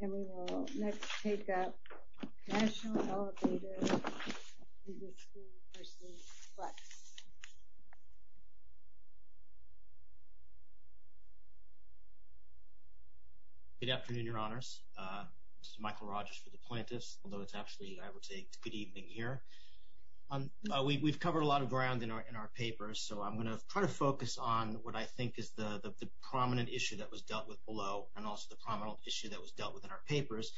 And we will next take up National Elev. Ind. Pension Fund v. Flex. Good afternoon, Your Honors. This is Michael Rogers for the plaintiffs, although it's actually, I would say, it's a good evening here. We've covered a lot of ground in our papers, so I'm going to try to focus on what I think is the prominent issue that was dealt with below and also the prominent issue that was dealt with in our papers,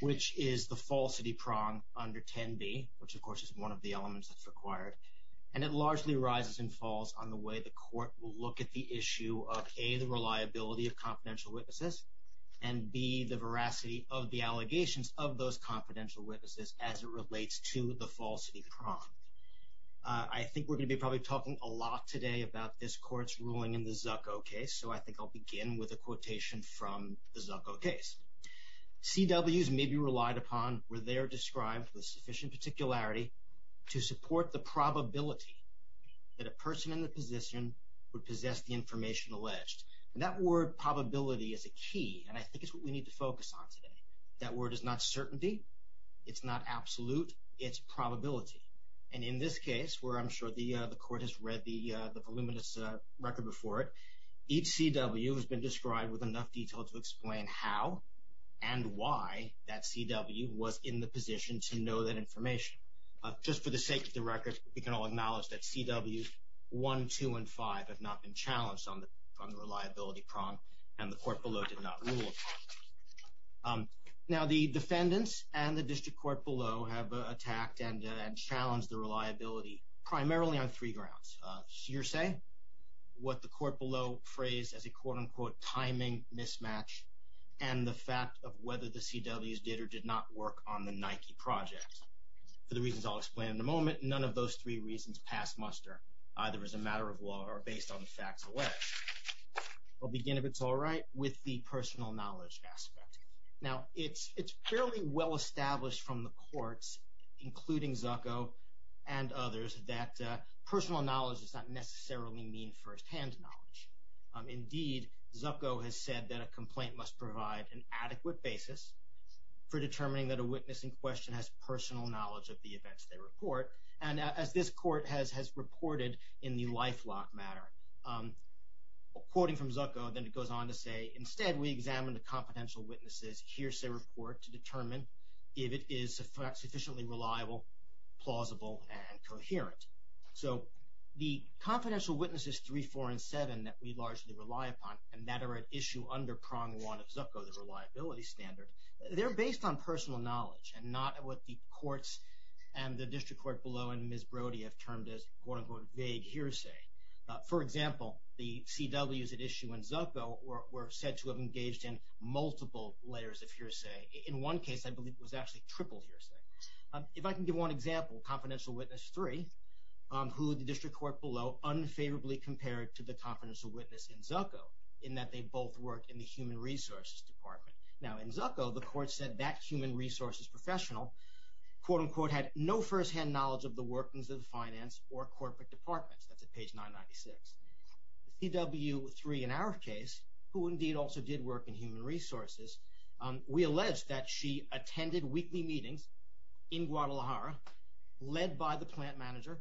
which is the falsity prong under 10b, which of course is one of the elements that's required. And it largely arises and falls on the way the Court will look at the issue of, a, the reliability of confidential witnesses, and, b, the veracity of the allegations of those confidential witnesses as it relates to the falsity prong. I think we're going to be probably talking a lot today about this Court's ruling in the Zucco case, so I think I'll begin with a quotation from the Zucco case. CWs may be relied upon where they are described with sufficient particularity to support the probability that a person in the position would possess the information alleged. And that word probability is a key, and I think it's what we need to focus on today. That word is not certainty. It's not absolute. It's probability. And in this case, where I'm sure the Court has read the voluminous record before it, each CW has been described with enough detail to explain how and why that CW was in the position to know that information. Just for the sake of the record, we can all acknowledge that CWs 1, 2, and 5 have not been challenged on the reliability prong, and the Court below did not rule on that. Now, the defendants and the district court below have attacked and challenged the reliability primarily on three grounds. Shearsay, what the court below phrased as a quote-unquote timing mismatch, and the fact of whether the CWs did or did not work on the Nike project. For the reasons I'll explain in a moment, none of those three reasons pass muster, either as a matter of law or based on the facts of the case. We'll begin, if it's all right, with the personal knowledge aspect. Now, it's fairly well established from the courts, including Zucco and others, that personal knowledge does not necessarily mean firsthand knowledge. Indeed, Zucco has said that a complaint must provide an adequate basis for determining that a witness in question has personal knowledge of the events they report. And as this court has reported in the lifelock matter, quoting from Zucco, then it goes on to say, Instead, we examine the confidential witnesses' shearsay report to determine if it is sufficiently reliable, plausible, and coherent. So, the confidential witnesses 3, 4, and 7 that we largely rely upon, and that are at issue under prong 1 of Zucco, the reliability standard, they're based on personal knowledge and not what the courts and the district court below and Ms. Brody have termed as, quote-unquote, vague hearsay. For example, the CWs at issue in Zucco were said to have engaged in multiple layers of hearsay. In one case, I believe it was actually triple hearsay. If I can give one example, confidential witness 3, who the district court below unfavorably compared to the confidential witness in Zucco, in that they both worked in the human resources department. Now, in Zucco, the court said that human resources professional, quote-unquote, had no first-hand knowledge of the workings of the finance or corporate departments. That's at page 996. CW 3, in our case, who indeed also did work in human resources, we allege that she attended weekly meetings in Guadalajara, led by the plant manager,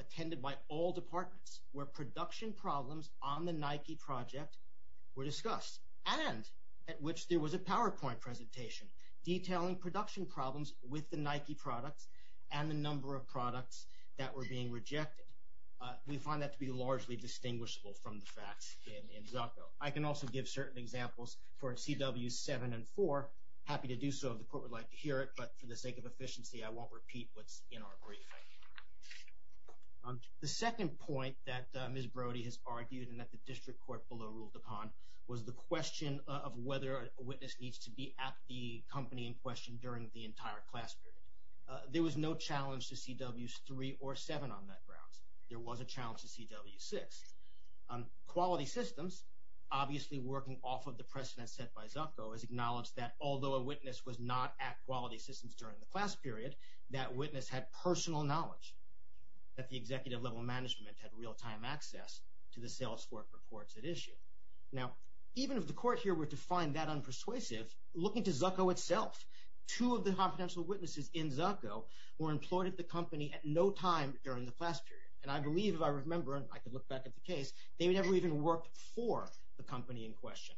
attended by all departments where production problems on the Nike project were discussed and at which there was a PowerPoint presentation detailing production problems with the Nike products and the number of products that were being rejected. We find that to be largely distinguishable from the facts in Zucco. I can also give certain examples for CWs 7 and 4. Happy to do so if the court would like to hear it, but for the sake of efficiency, I won't repeat what's in our brief. The second point that Ms. Brody has argued and that the district court below ruled upon was the question of whether a witness needs to be at the company in question during the entire class period. There was no challenge to CWs 3 or 7 on that grounds. There was a challenge to CW 6. Quality Systems, obviously working off of the precedent set by Zucco, has acknowledged that although a witness was not at Quality Systems during the class period, that witness had personal knowledge, that the executive level management had real-time access to the sales reports at issue. Now, even if the court here were to find that unpersuasive, looking to Zucco itself, two of the confidential witnesses in Zucco were employed at the company at no time during the class period. And I believe, if I remember, and I can look back at the case, they never even worked for the company in question.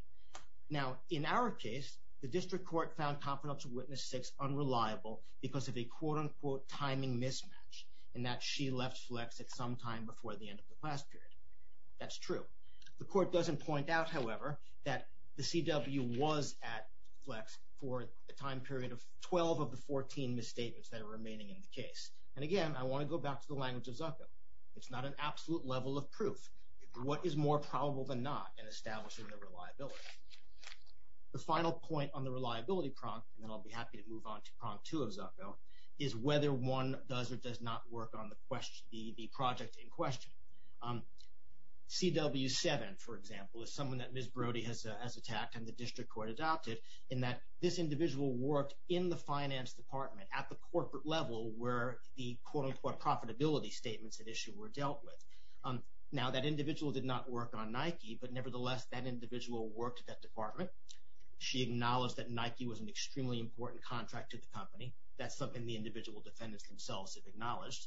Now, in our case, the district court found confidential witness 6 unreliable because of a quote-unquote timing mismatch in that she left Flex at some time before the end of the class period. That's true. The court doesn't point out, however, that the CW was at Flex for a time period of 12 of the 14 misstatements that are remaining in the case. And again, I want to go back to the language of Zucco. It's not an absolute level of proof. What is more probable than not in establishing the reliability? The final point on the reliability prompt, and then I'll be happy to move on to prompt 2 of Zucco, is whether one does or does not work on the project in question. CW 7, for example, is someone that Ms. Brody has attacked and the district court adopted in that this individual worked in the finance department at the corporate level where the quote-unquote profitability statements at issue were dealt with. Now, that individual did not work on Nike, but nevertheless, that individual worked at that department. She acknowledged that Nike was an extremely important contract to the company. That's something the individual defendants themselves have acknowledged.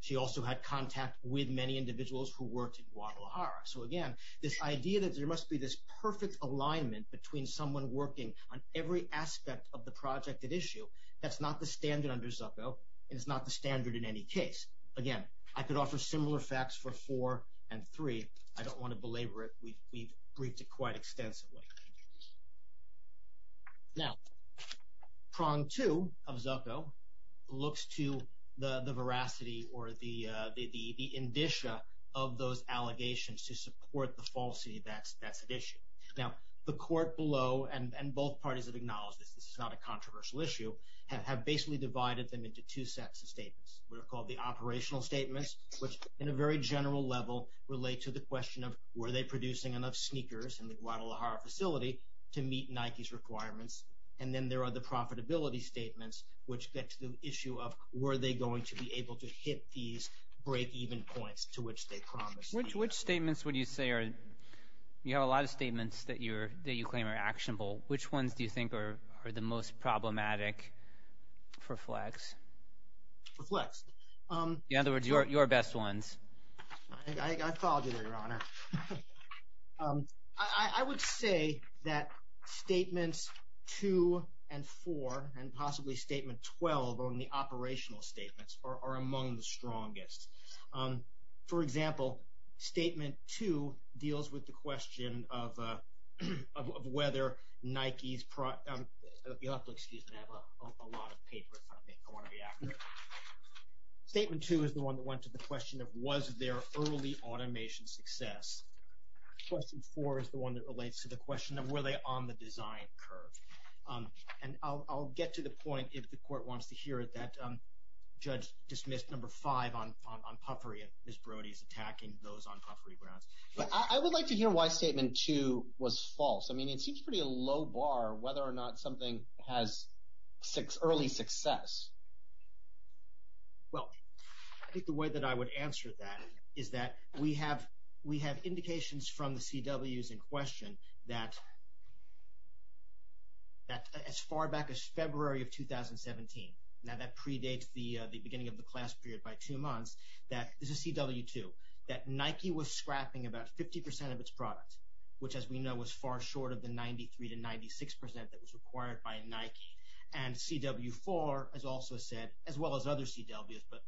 She also had contact with many individuals who worked in Guadalajara. So, again, this idea that there must be this perfect alignment between someone working on every aspect of the project at issue, that's not the standard under Zucco, and it's not the standard in any case. Again, I could offer similar facts for 4 and 3. I don't want to belabor it. We've briefed it quite extensively. Now, prompt 2 of Zucco looks to the veracity or the indicia of those allegations to support the falsity that's at issue. Now, the court below and both parties have acknowledged this. This is not a controversial issue, have basically divided them into two sets of statements. They're called the operational statements, which in a very general level relate to the question of were they producing enough sneakers in the Guadalajara facility to meet Nike's requirements, and then there are the profitability statements, which get to the issue of were they going to be able to hit these break-even points to which they promised. Which statements would you say are – you have a lot of statements that you claim are actionable. Which ones do you think are the most problematic for Flex? For Flex? In other words, your best ones. I followed you there, Your Honor. I would say that statements 2 and 4 and possibly statement 12 on the operational statements are among the strongest. For example, statement 2 deals with the question of whether Nike's – you'll have to excuse me. I have a lot of paper in front of me. I want to be accurate. Statement 2 is the one that went to the question of was there early automation success. Question 4 is the one that relates to the question of were they on the design curve. And I'll get to the point if the court wants to hear it that Judge dismissed number 5 on puffery and Ms. Brody's attacking those on puffery grounds. But I would like to hear why statement 2 was false. I mean, it seems pretty low bar whether or not something has early success. Well, I think the way that I would answer that is that we have indications from the CWs in question that as far back as February of 2017, now that predates the beginning of the class period by two months, that – this is CW2 – that Nike was scrapping about 50% of its product, which as we know was far short of the 93 to 96% that was required by Nike. And CW4 has also said, as well as other CWs, but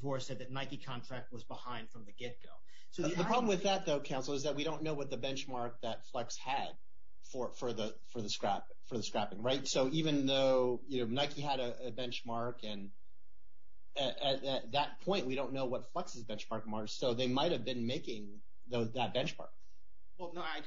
CW4 said that Nike contract was behind from the get-go. The problem with that, though, counsel, is that we don't know what the benchmark that Flex had for the scrapping, right? So even though Nike had a benchmark and at that point we don't know what Flex's benchmark was, so they might have been making that benchmark. Well, no, I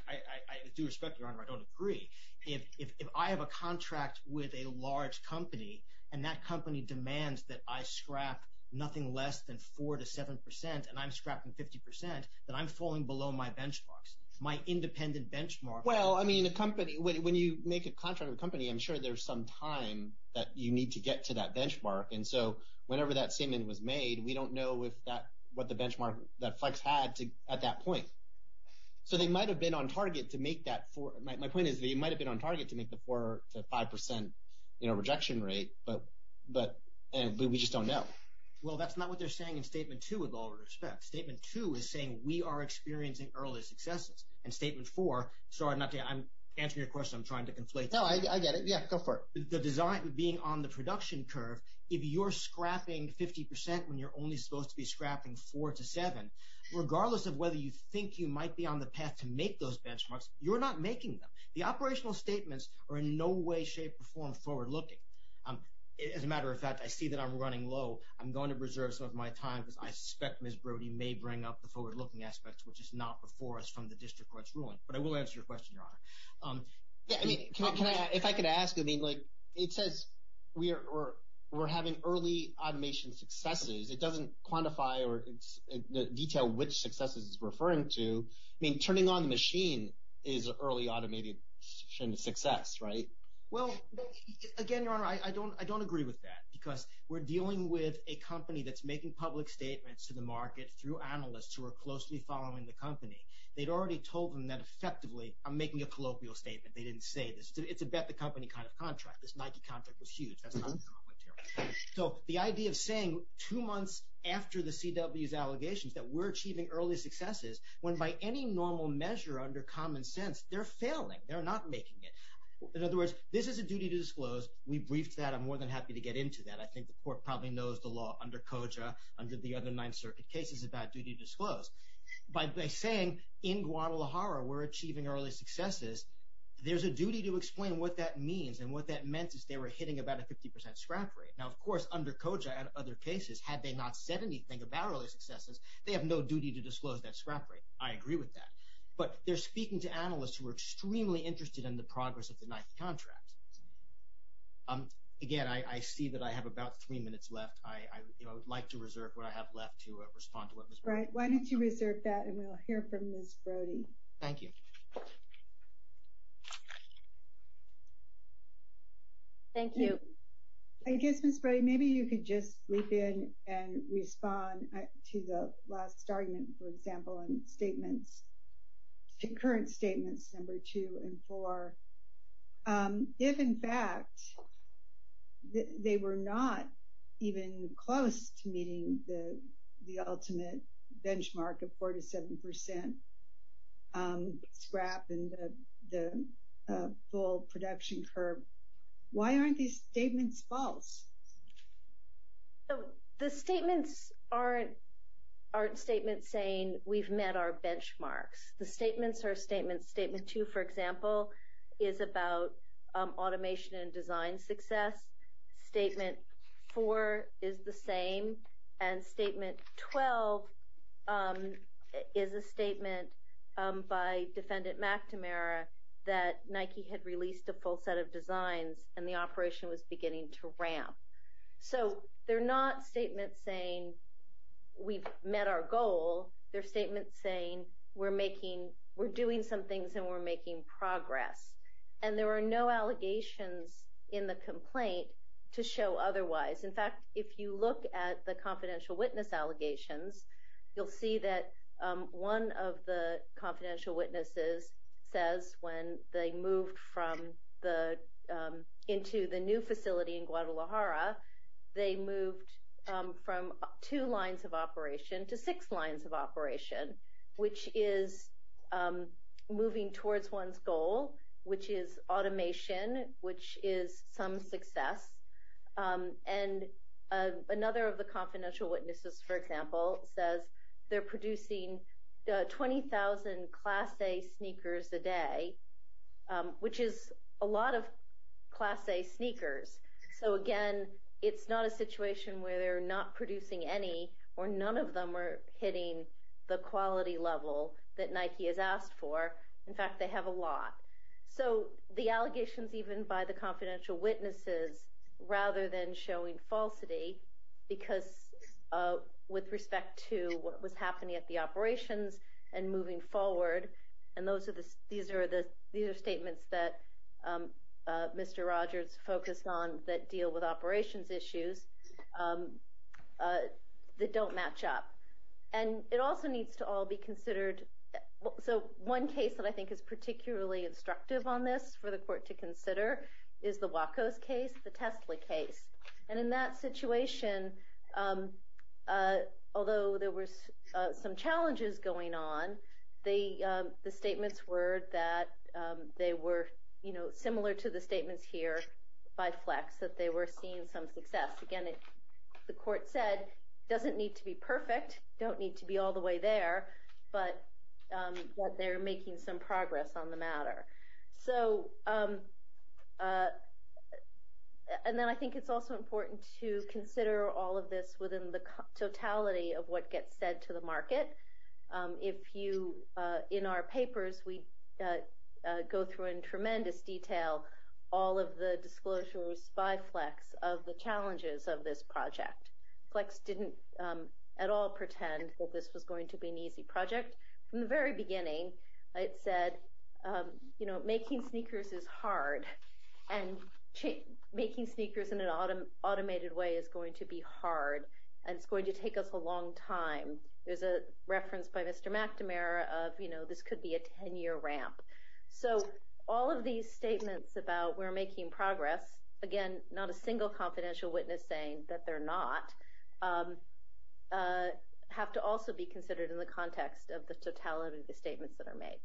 do respect your honor. I don't agree. If I have a contract with a large company and that company demands that I scrap nothing less than 4% to 7% and I'm scrapping 50%, then I'm falling below my benchmarks, my independent benchmark. Well, I mean, a company – when you make a contract with a company, I'm sure there's some time that you need to get to that benchmark. And so whenever that statement was made, we don't know if that – what the benchmark that Flex had at that point. So they might have been on target to make that – my point is they might have been on target to make the 4% to 5% rejection rate, but we just don't know. Well, that's not what they're saying in Statement 2 with all respect. Statement 2 is saying we are experiencing early successes. And Statement 4 – sorry, I'm answering your question. I'm trying to conflate. No, I get it. Yeah, go for it. The design being on the production curve, if you're scrapping 50% when you're only supposed to be scrapping 4% to 7%, regardless of whether you think you might be on the path to make those benchmarks, you're not making them. The operational statements are in no way, shape, or form forward-looking. As a matter of fact, I see that I'm running low. I'm going to reserve some of my time because I suspect Ms. Brody may bring up the forward-looking aspects, which is not before us from the district court's ruling. But I will answer your question, Your Honor. Yeah, I mean, can I – if I could ask, I mean, like, it says we're having early automation successes. It doesn't quantify or detail which successes it's referring to. I mean, turning on the machine is an early automation success, right? Well, again, Your Honor, I don't agree with that because we're dealing with a company that's making public statements to the market through analysts who are closely following the company. They'd already told them that effectively, I'm making a colloquial statement. They didn't say this. It's a bet-the-company kind of contract. This Nike contract was huge. That's not the point here. So the idea of saying two months after the CW's allegations that we're achieving early successes when by any normal measure under common sense, they're failing. They're not making it. In other words, this is a duty to disclose. We briefed that. I'm more than happy to get into that. I think the court probably knows the law under COJA, under the other Ninth Circuit cases, about duty to disclose. By saying in Guadalajara we're achieving early successes, there's a duty to explain what that means and what that meant is they were hitting about a 50 percent scrap rate. Now, of course, under COJA and other cases, had they not said anything about early successes, they have no duty to disclose that scrap rate. I agree with that. But they're speaking to analysts who are extremely interested in the progress of the Nike contract. Again, I see that I have about three minutes left. I would like to reserve what I have left to respond to what Ms. Brody said. Right. Why don't you reserve that and we'll hear from Ms. Brody. Thank you. Thank you. I guess, Ms. Brody, maybe you could just leap in and respond to the last argument, for example, in statements, the current statements number two and four. If, in fact, they were not even close to meeting the ultimate benchmark of four to seven percent scrap and the full production curve, why aren't these statements false? The statements aren't statements saying we've met our benchmarks. The statements are statements. Statement two, for example, is about automation and design success. Statement four is the same. And statement 12 is a statement by Defendant McNamara that Nike had released a full set of designs and the operation was beginning to ramp. So they're not statements saying we've met our goal. They're statements saying we're doing some things and we're making progress. And there are no allegations in the complaint to show otherwise. In fact, if you look at the confidential witness allegations, you'll see that one of the confidential witnesses says when they moved into the new facility in Guadalajara, they moved from two lines of operation to six lines of operation, which is moving towards one's goal, which is automation, which is some success. And another of the confidential witnesses, for example, says they're producing 20,000 Class A sneakers a day, which is a lot of Class A sneakers. So, again, it's not a situation where they're not producing any or none of them are hitting the quality level that Nike has asked for. In fact, they have a lot. So the allegations even by the confidential witnesses, rather than showing falsity, because with respect to what was happening at the operations and moving forward, and these are statements that Mr. Rogers focused on that deal with operations issues that don't match up. And it also needs to all be considered. So one case that I think is particularly instructive on this for the court to consider is the Wacos case, the Tesla case. And in that situation, although there were some challenges going on, the statements were that they were, you know, similar to the statements here by Flex, that they were seeing some success. Again, the court said it doesn't need to be perfect, don't need to be all the way there, but that they're making some progress on the matter. So, and then I think it's also important to consider all of this within the totality of what gets said to the market. If you, in our papers, we go through in tremendous detail all of the disclosures by Flex of the challenges of this project. Flex didn't at all pretend that this was going to be an easy project. From the very beginning, it said, you know, making sneakers is hard, and making sneakers in an automated way is going to be hard, and it's going to take us a long time. There's a reference by Mr. McNamara of, you know, this could be a 10-year ramp. So all of these statements about we're making progress, again, not a single confidential witness saying that they're not, have to also be considered in the context of the totality of the statements that are made.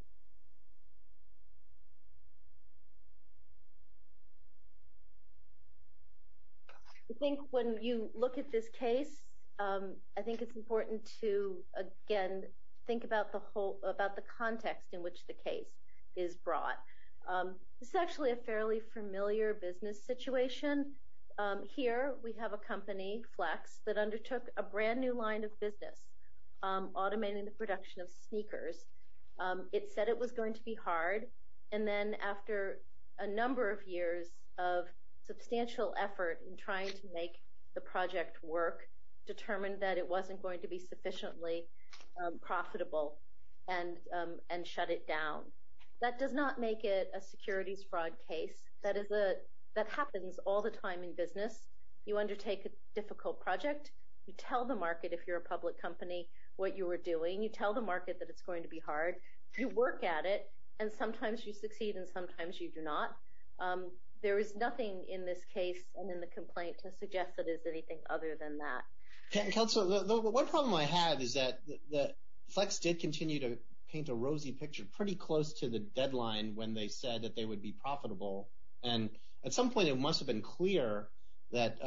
I think when you look at this case, I think it's important to, again, think about the context in which the case is brought. This is actually a fairly familiar business situation. Here we have a company, Flex, that undertook a brand new line of business, automating the production of sneakers. It said it was going to be hard, and then after a number of years of substantial effort in trying to make the project work, determined that it wasn't going to be sufficiently profitable, and shut it down. That does not make it a securities fraud case. That happens all the time in business. You undertake a difficult project. You tell the market, if you're a public company, what you were doing. You tell the market that it's going to be hard. You work at it, and sometimes you succeed, and sometimes you do not. There is nothing in this case and in the complaint to suggest that there's anything other than that. One problem I have is that Flex did continue to paint a rosy picture pretty close to the deadline when they said that they would be profitable, and at some point it must have been clear that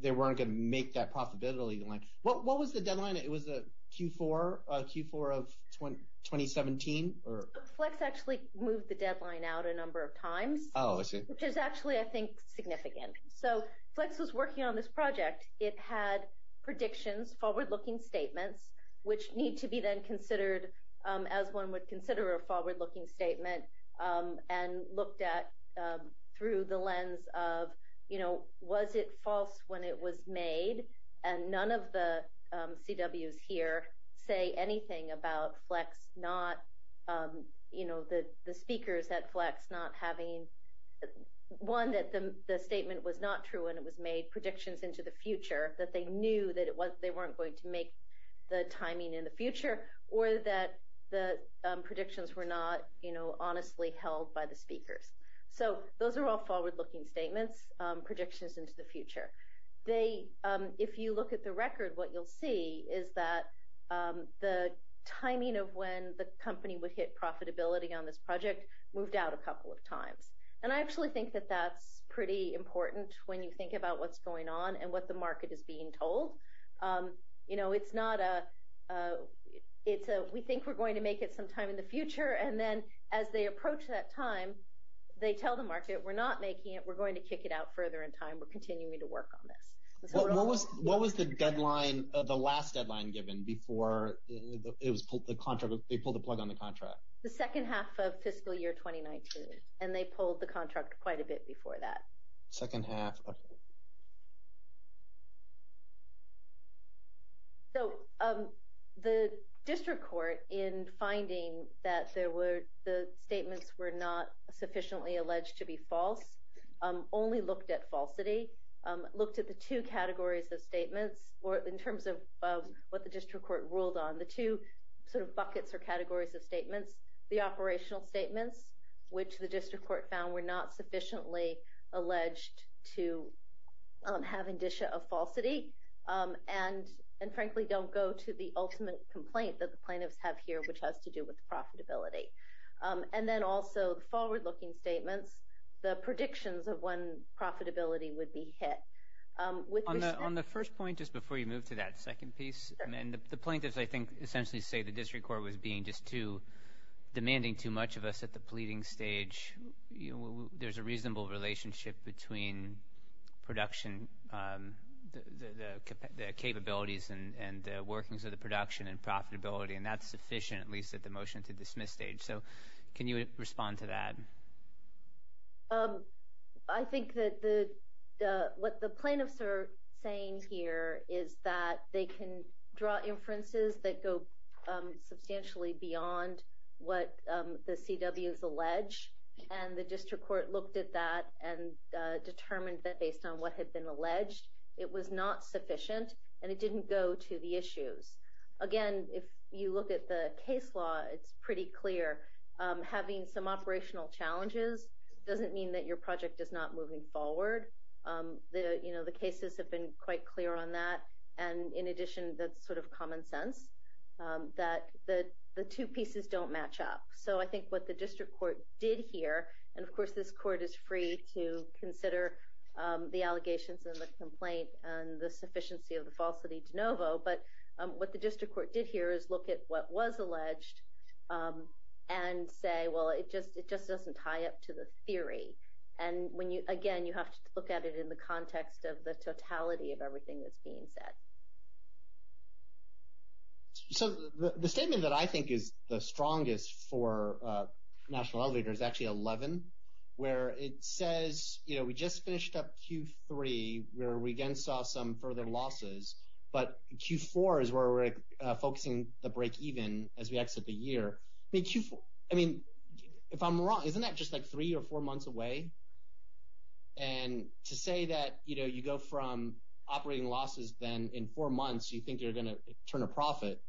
they weren't going to make that profitability. What was the deadline? It was Q4 of 2017? Flex actually moved the deadline out a number of times, which is actually, I think, significant. Flex was working on this project. It had predictions, forward-looking statements, which need to be then considered as one would consider a forward-looking statement, and looked at through the lens of, you know, was it false when it was made, and none of the CWs here say anything about Flex not, you know, the speakers at Flex not having, one, that the statement was not true when it was made, predictions into the future, that they knew that they weren't going to make the timing in the future, or that the predictions were not, you know, honestly held by the speakers. So those are all forward-looking statements, predictions into the future. They, if you look at the record, what you'll see is that the timing of when the company would hit profitability on this project moved out a couple of times. And I actually think that that's pretty important when you think about what's going on and what the market is being told. You know, it's not a, it's a, we think we're going to make it sometime in the future, and then as they approach that time, they tell the market, we're not making it, we're going to kick it out further in time, we're continuing to work on this. What was the deadline, the last deadline given before it was pulled, the contract, they pulled the plug on the contract? The second half of fiscal year 2019, and they pulled the contract quite a bit before that. Second half, okay. So the district court, in finding that there were, the statements were not sufficiently alleged to be false, only looked at falsity, looked at the two categories of statements, or in terms of what the district court ruled on, the two sort of buckets or categories of statements, the operational statements, which the district court found were not sufficiently alleged to have indicia of falsity, and frankly don't go to the ultimate complaint that the plaintiffs have here, which has to do with profitability. And then also the forward-looking statements, the predictions of when profitability would be hit. On the first point, just before you move to that second piece, and the plaintiffs I think essentially say the district court was being just too, demanding too much of us at the pleading stage. There's a reasonable relationship between production, the capabilities and the workings of the production and profitability, and that's sufficient at least at the motion to dismiss stage. So can you respond to that? I think that what the plaintiffs are saying here is that they can draw inferences that go substantially beyond what the CWs allege, and the district court looked at that and determined that based on what had been alleged, it was not sufficient and it didn't go to the issues. Again, if you look at the case law, it's pretty clear. Having some operational challenges doesn't mean that your project is not moving forward. The cases have been quite clear on that, and in addition that's sort of common sense, that the two pieces don't match up. So I think what the district court did here, and of course this court is free to consider the allegations and the complaint and the sufficiency of the falsity de novo, but what the district court did here is look at what was alleged and say, well, it just doesn't tie up to the theory. And again, you have to look at it in the context of the totality of everything that's being said. So the statement that I think is the strongest for National Elevator is actually 11, where it says we just finished up Q3 where we again saw some further losses, but Q4 is where we're focusing the breakeven as we exit the year. I mean, if I'm wrong, isn't that just like three or four months away? And to say that you go from operating losses then in four months you think you're going to turn a profit,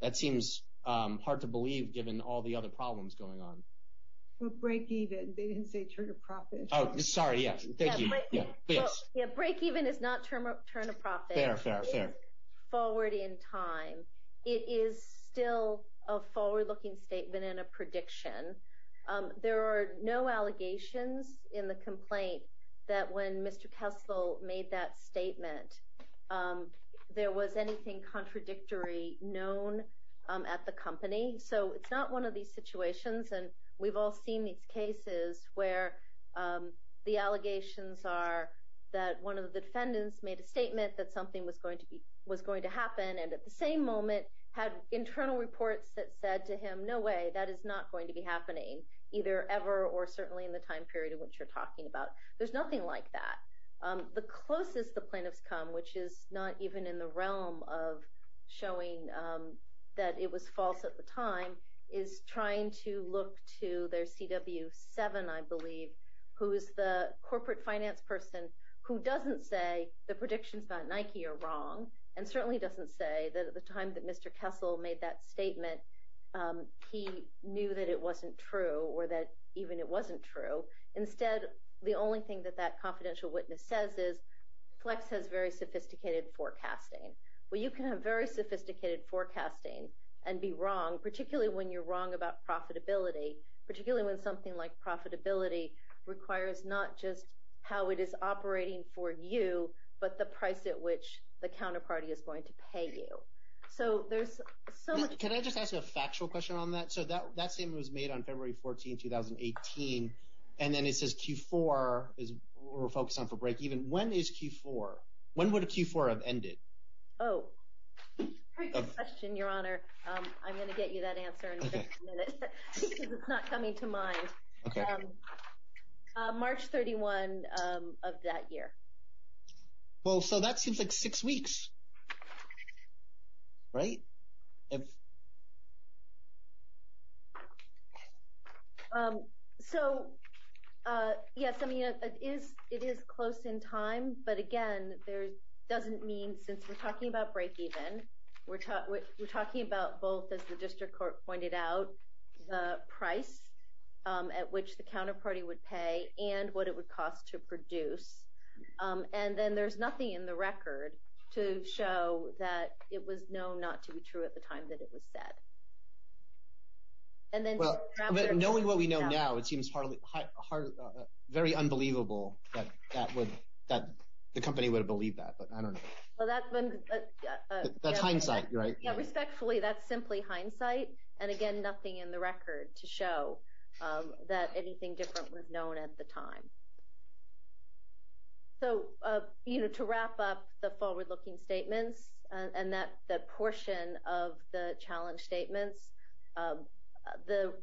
that seems hard to believe given all the other problems going on. Well, breakeven, they didn't say turn a profit. Oh, sorry, yes, thank you. Breakeven is not turn a profit. Fair, fair, fair. It is forward in time. It is still a forward-looking statement and a prediction. There are no allegations in the complaint that when Mr. Kessel made that statement, there was anything contradictory known at the company. So it's not one of these situations, and we've all seen these cases where the allegations are that one of the defendants made a statement that something was going to happen and at the same moment had internal reports that said to him, no way, that is not going to be happening, either ever or certainly in the time period in which you're talking about. There's nothing like that. The closest the plaintiffs come, which is not even in the realm of showing that it was false at the time, is trying to look to their CW7, I believe, who is the corporate finance person who doesn't say the predictions about Nike are wrong and certainly doesn't say that at the time that Mr. Kessel made that statement he knew that it wasn't true or that even it wasn't true. Instead, the only thing that that confidential witness says is Flex has very sophisticated forecasting. Well, you can have very sophisticated forecasting and be wrong, particularly when you're wrong about profitability, particularly when something like profitability requires not just how it is operating for you but the price at which the counterparty is going to pay you. So there's so much— Can I just ask you a factual question on that? So that statement was made on February 14, 2018, and then it says Q4 is what we're focused on for break-even. When is Q4? When would a Q4 have ended? Oh, great question, Your Honor. I'm going to get you that answer in just a minute because it's not coming to mind. March 31 of that year. Well, so that seems like six weeks, right? So, yes, I mean, it is close in time, but again, there doesn't mean—since we're talking about break-even, we're talking about both, as the district court pointed out, the price at which the counterparty would pay and what it would cost to produce. And then there's nothing in the record to show that it was known not to be true at the time that it was said. And then— But knowing what we know now, it seems very unbelievable that the company would have believed that, but I don't know. Well, that's been— That's hindsight, right? Yeah, respectfully, that's simply hindsight. And again, nothing in the record to show that anything different was known at the time. So, you know, to wrap up the forward-looking statements and that portion of the challenge statements, the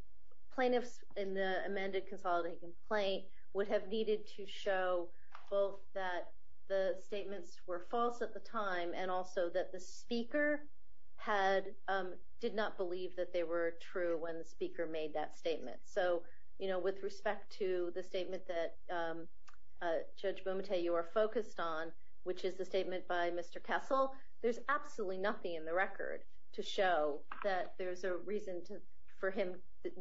plaintiffs in the amended consolidated complaint would have needed to show both that the statements were false at the time and also that the speaker did not believe that they were true when the speaker made that statement. So, you know, with respect to the statement that, Judge Bumate, you are focused on, which is the statement by Mr. Kessel, there's absolutely nothing in the record to show that there's a reason for him—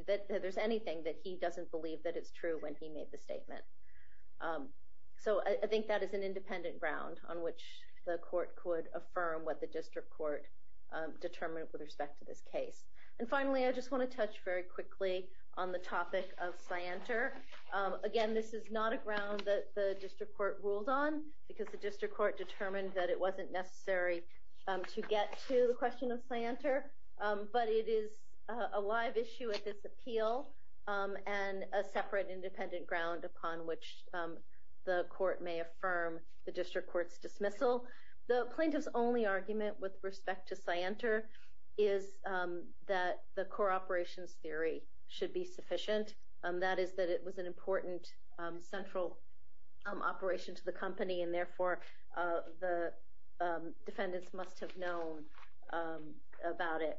that there's anything that he doesn't believe that it's true when he made the statement. So, I think that is an independent ground on which the court could affirm what the district court determined with respect to this case. And finally, I just want to touch very quickly on the topic of scienter. Again, this is not a ground that the district court ruled on because the district court determined that it wasn't necessary to get to the question of scienter, but it is a live issue at this appeal and a separate independent ground upon which the court may affirm the district court's dismissal. The plaintiff's only argument with respect to scienter is that the core operations theory should be sufficient. That is that it was an important central operation to the company and therefore the defendants must have known about it.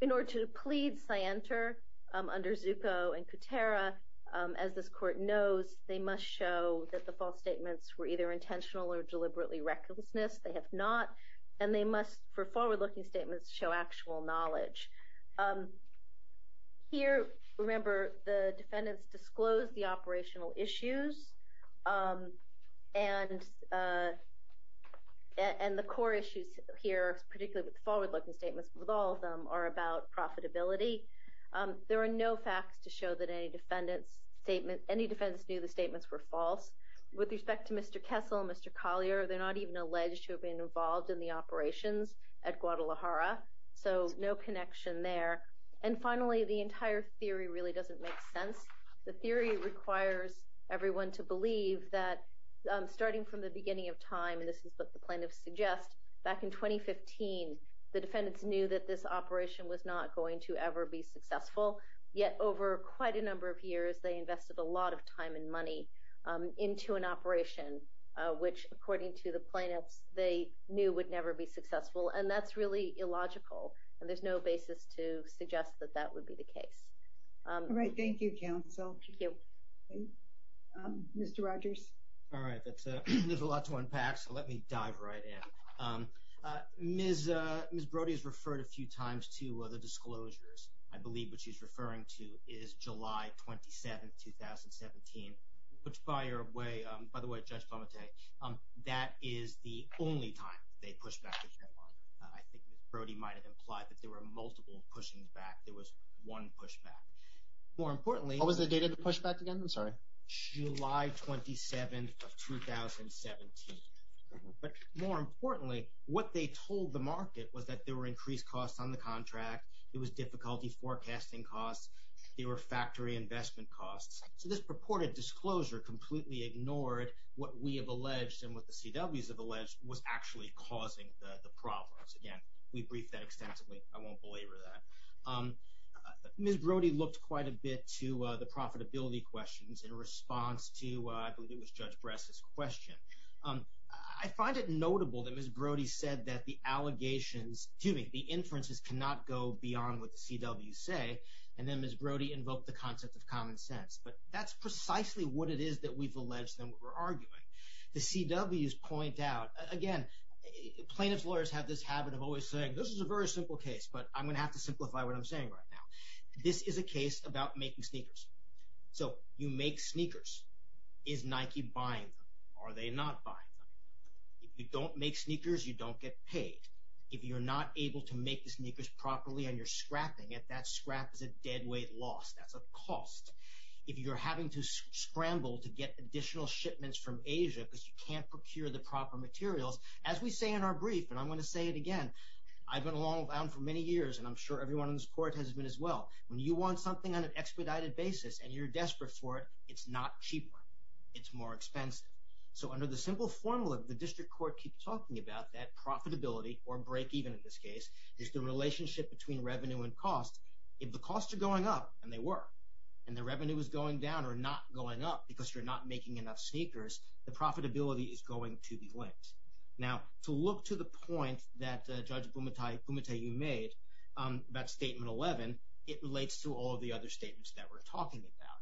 In order to plead scienter under Zucco and Kutera, as this court knows, they must show that the false statements were either intentional or deliberately recklessness. They have not. And they must, for forward-looking statements, show actual knowledge. Here, remember, the defendants disclosed the operational issues and the core issues here, particularly with forward-looking statements, with all of them, are about profitability. There are no facts to show that any defendants knew the statements were false. With respect to Mr. Kessel and Mr. Collier, they're not even alleged to have been involved in the operations at Guadalajara, so no connection there. And finally, the entire theory really doesn't make sense. The theory requires everyone to believe that, starting from the beginning of time, and this is what the plaintiffs suggest, back in 2015 the defendants knew that this operation was not going to ever be successful, yet over quite a number of years they invested a lot of time and money into an operation, which, according to the plaintiffs, they knew would never be successful. And that's really illogical, and there's no basis to suggest that that would be the case. All right. Thank you, counsel. Thank you. Mr. Rogers. All right. There's a lot to unpack, so let me dive right in. Ms. Brody has referred a few times to the disclosures. I believe what she's referring to is July 27, 2017, which, by the way, Judge Palmate, that is the only time they pushed back the deadline. I think Ms. Brody might have implied that there were multiple pushings back. There was one pushback. More importantly, What was the date of the pushback again? I'm sorry. July 27, 2017. But more importantly, what they told the market was that there were increased costs on the contract, there was difficulty forecasting costs, there were factory investment costs. So this purported disclosure completely ignored what we have alleged and what the CWs have alleged was actually causing the problems. Again, we briefed that extensively. I won't belabor that. Ms. Brody looked quite a bit to the profitability questions in response to, I believe it was Judge Bress's question. I find it notable that Ms. Brody said that the allegations, excuse me, the inferences cannot go beyond what the CWs say, and then Ms. Brody invoked the concept of common sense. But that's precisely what it is that we've alleged and what we're arguing. The CWs point out, again, plaintiff's lawyers have this habit of always saying, this is a very simple case, but I'm going to have to simplify what I'm saying right now. This is a case about making sneakers. So you make sneakers. Is Nike buying them? Are they not buying them? If you don't make sneakers, you don't get paid. If you're not able to make the sneakers properly and you're scrapping it, that scrap is a deadweight loss. That's a cost. If you're having to scramble to get additional shipments from Asia because you can't procure the proper materials, as we say in our brief, and I'm going to say it again, I've been along with Alan for many years, and I'm sure everyone in this court has been as well. When you want something on an expedited basis and you're desperate for it, it's not cheaper. It's more expensive. So under the simple formula that the district court keeps talking about, that profitability, or break-even in this case, is the relationship between revenue and cost. If the costs are going up, and they were, and the revenue is going down or not going up because you're not making enough sneakers, the profitability is going to be linked. Now, to look to the point that Judge Bumatayu made about Statement 11, it relates to all of the other statements that we're talking about.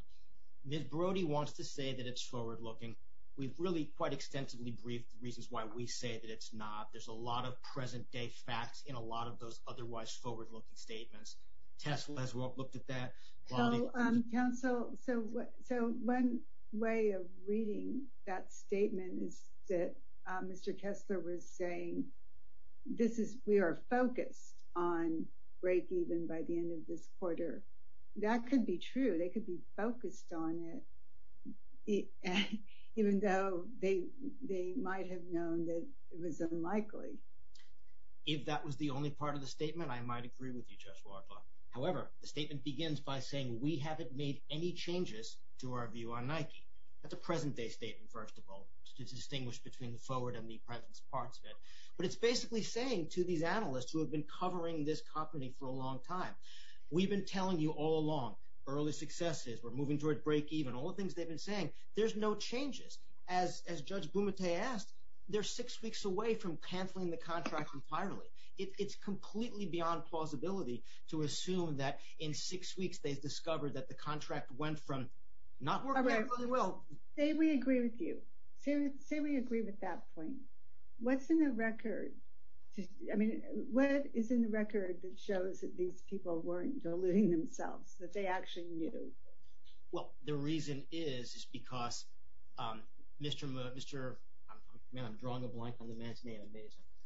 Ms. Brody wants to say that it's forward-looking. We've really quite extensively briefed the reasons why we say that it's not. There's a lot of present-day facts in a lot of those otherwise forward-looking statements. Tess has looked at that. So one way of reading that statement is that Mr. Kessler was saying we are focused on break-even by the end of this quarter. That could be true. They could be focused on it, even though they might have known that it was unlikely. If that was the only part of the statement, I might agree with you, Judge Wardlaw. However, the statement begins by saying we haven't made any changes to our view on Nike. That's a present-day statement, first of all, to distinguish between the forward and the present parts of it. But it's basically saying to these analysts who have been covering this company for a long time, we've been telling you all along, early successes, we're moving toward break-even, all the things they've been saying. There's no changes. As Judge Bumate asked, they're six weeks away from cancelling the contract entirely. It's completely beyond plausibility to assume that in six weeks they've discovered that the contract went from not working out really well. Say we agree with you. Say we agree with that point. What's in the record? I mean, what is in the record that shows that these people weren't deluding themselves, that they actually knew? Well, the reason is, is because Mr. – man, I'm drawing a blank on the man's name.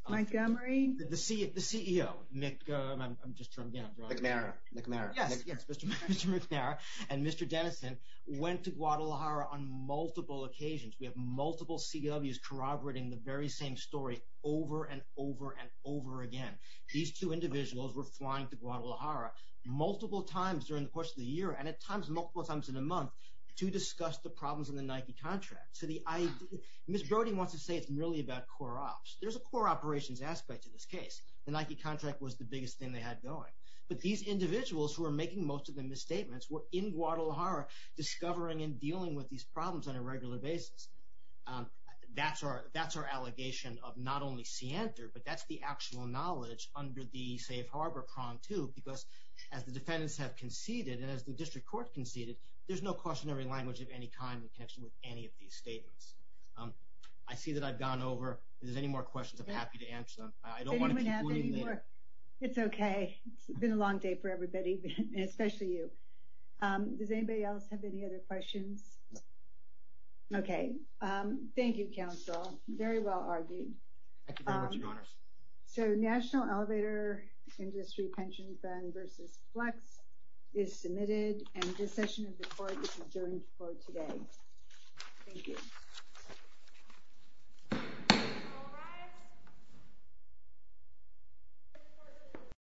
Montgomery? The CEO, I'm just – again, I'm drawing a blank. McNamara. Yes, Mr. McNamara and Mr. Dennison went to Guadalajara on multiple occasions. We have multiple CWs corroborating the very same story over and over and over again. These two individuals were flying to Guadalajara multiple times during the course of the year and at times multiple times in a month to discuss the problems in the Nike contract. So the – Ms. Brody wants to say it's merely about core ops. There's a core operations aspect to this case. The Nike contract was the biggest thing they had going. But these individuals who are making most of the misstatements were in Guadalajara discovering and dealing with these problems on a regular basis. That's our – that's our allegation of not only scienter, but that's the actual knowledge under the safe harbor prong, too, because as the defendants have conceded and as the district court conceded, there's no cautionary language of any kind in connection with any of these statements. I see that I've gone over. If there's any more questions, I'm happy to answer them. I don't want to keep – It's okay. It's been a long day for everybody, especially you. Does anybody else have any other questions? No. Okay. Thank you, counsel. Very well argued. Thank you very much, Your Honors. So National Elevator Industry Pension Fund versus Flex is submitted, and this session is recorded. This is adjourned for today. Thank you. All rise. This court is adjourned.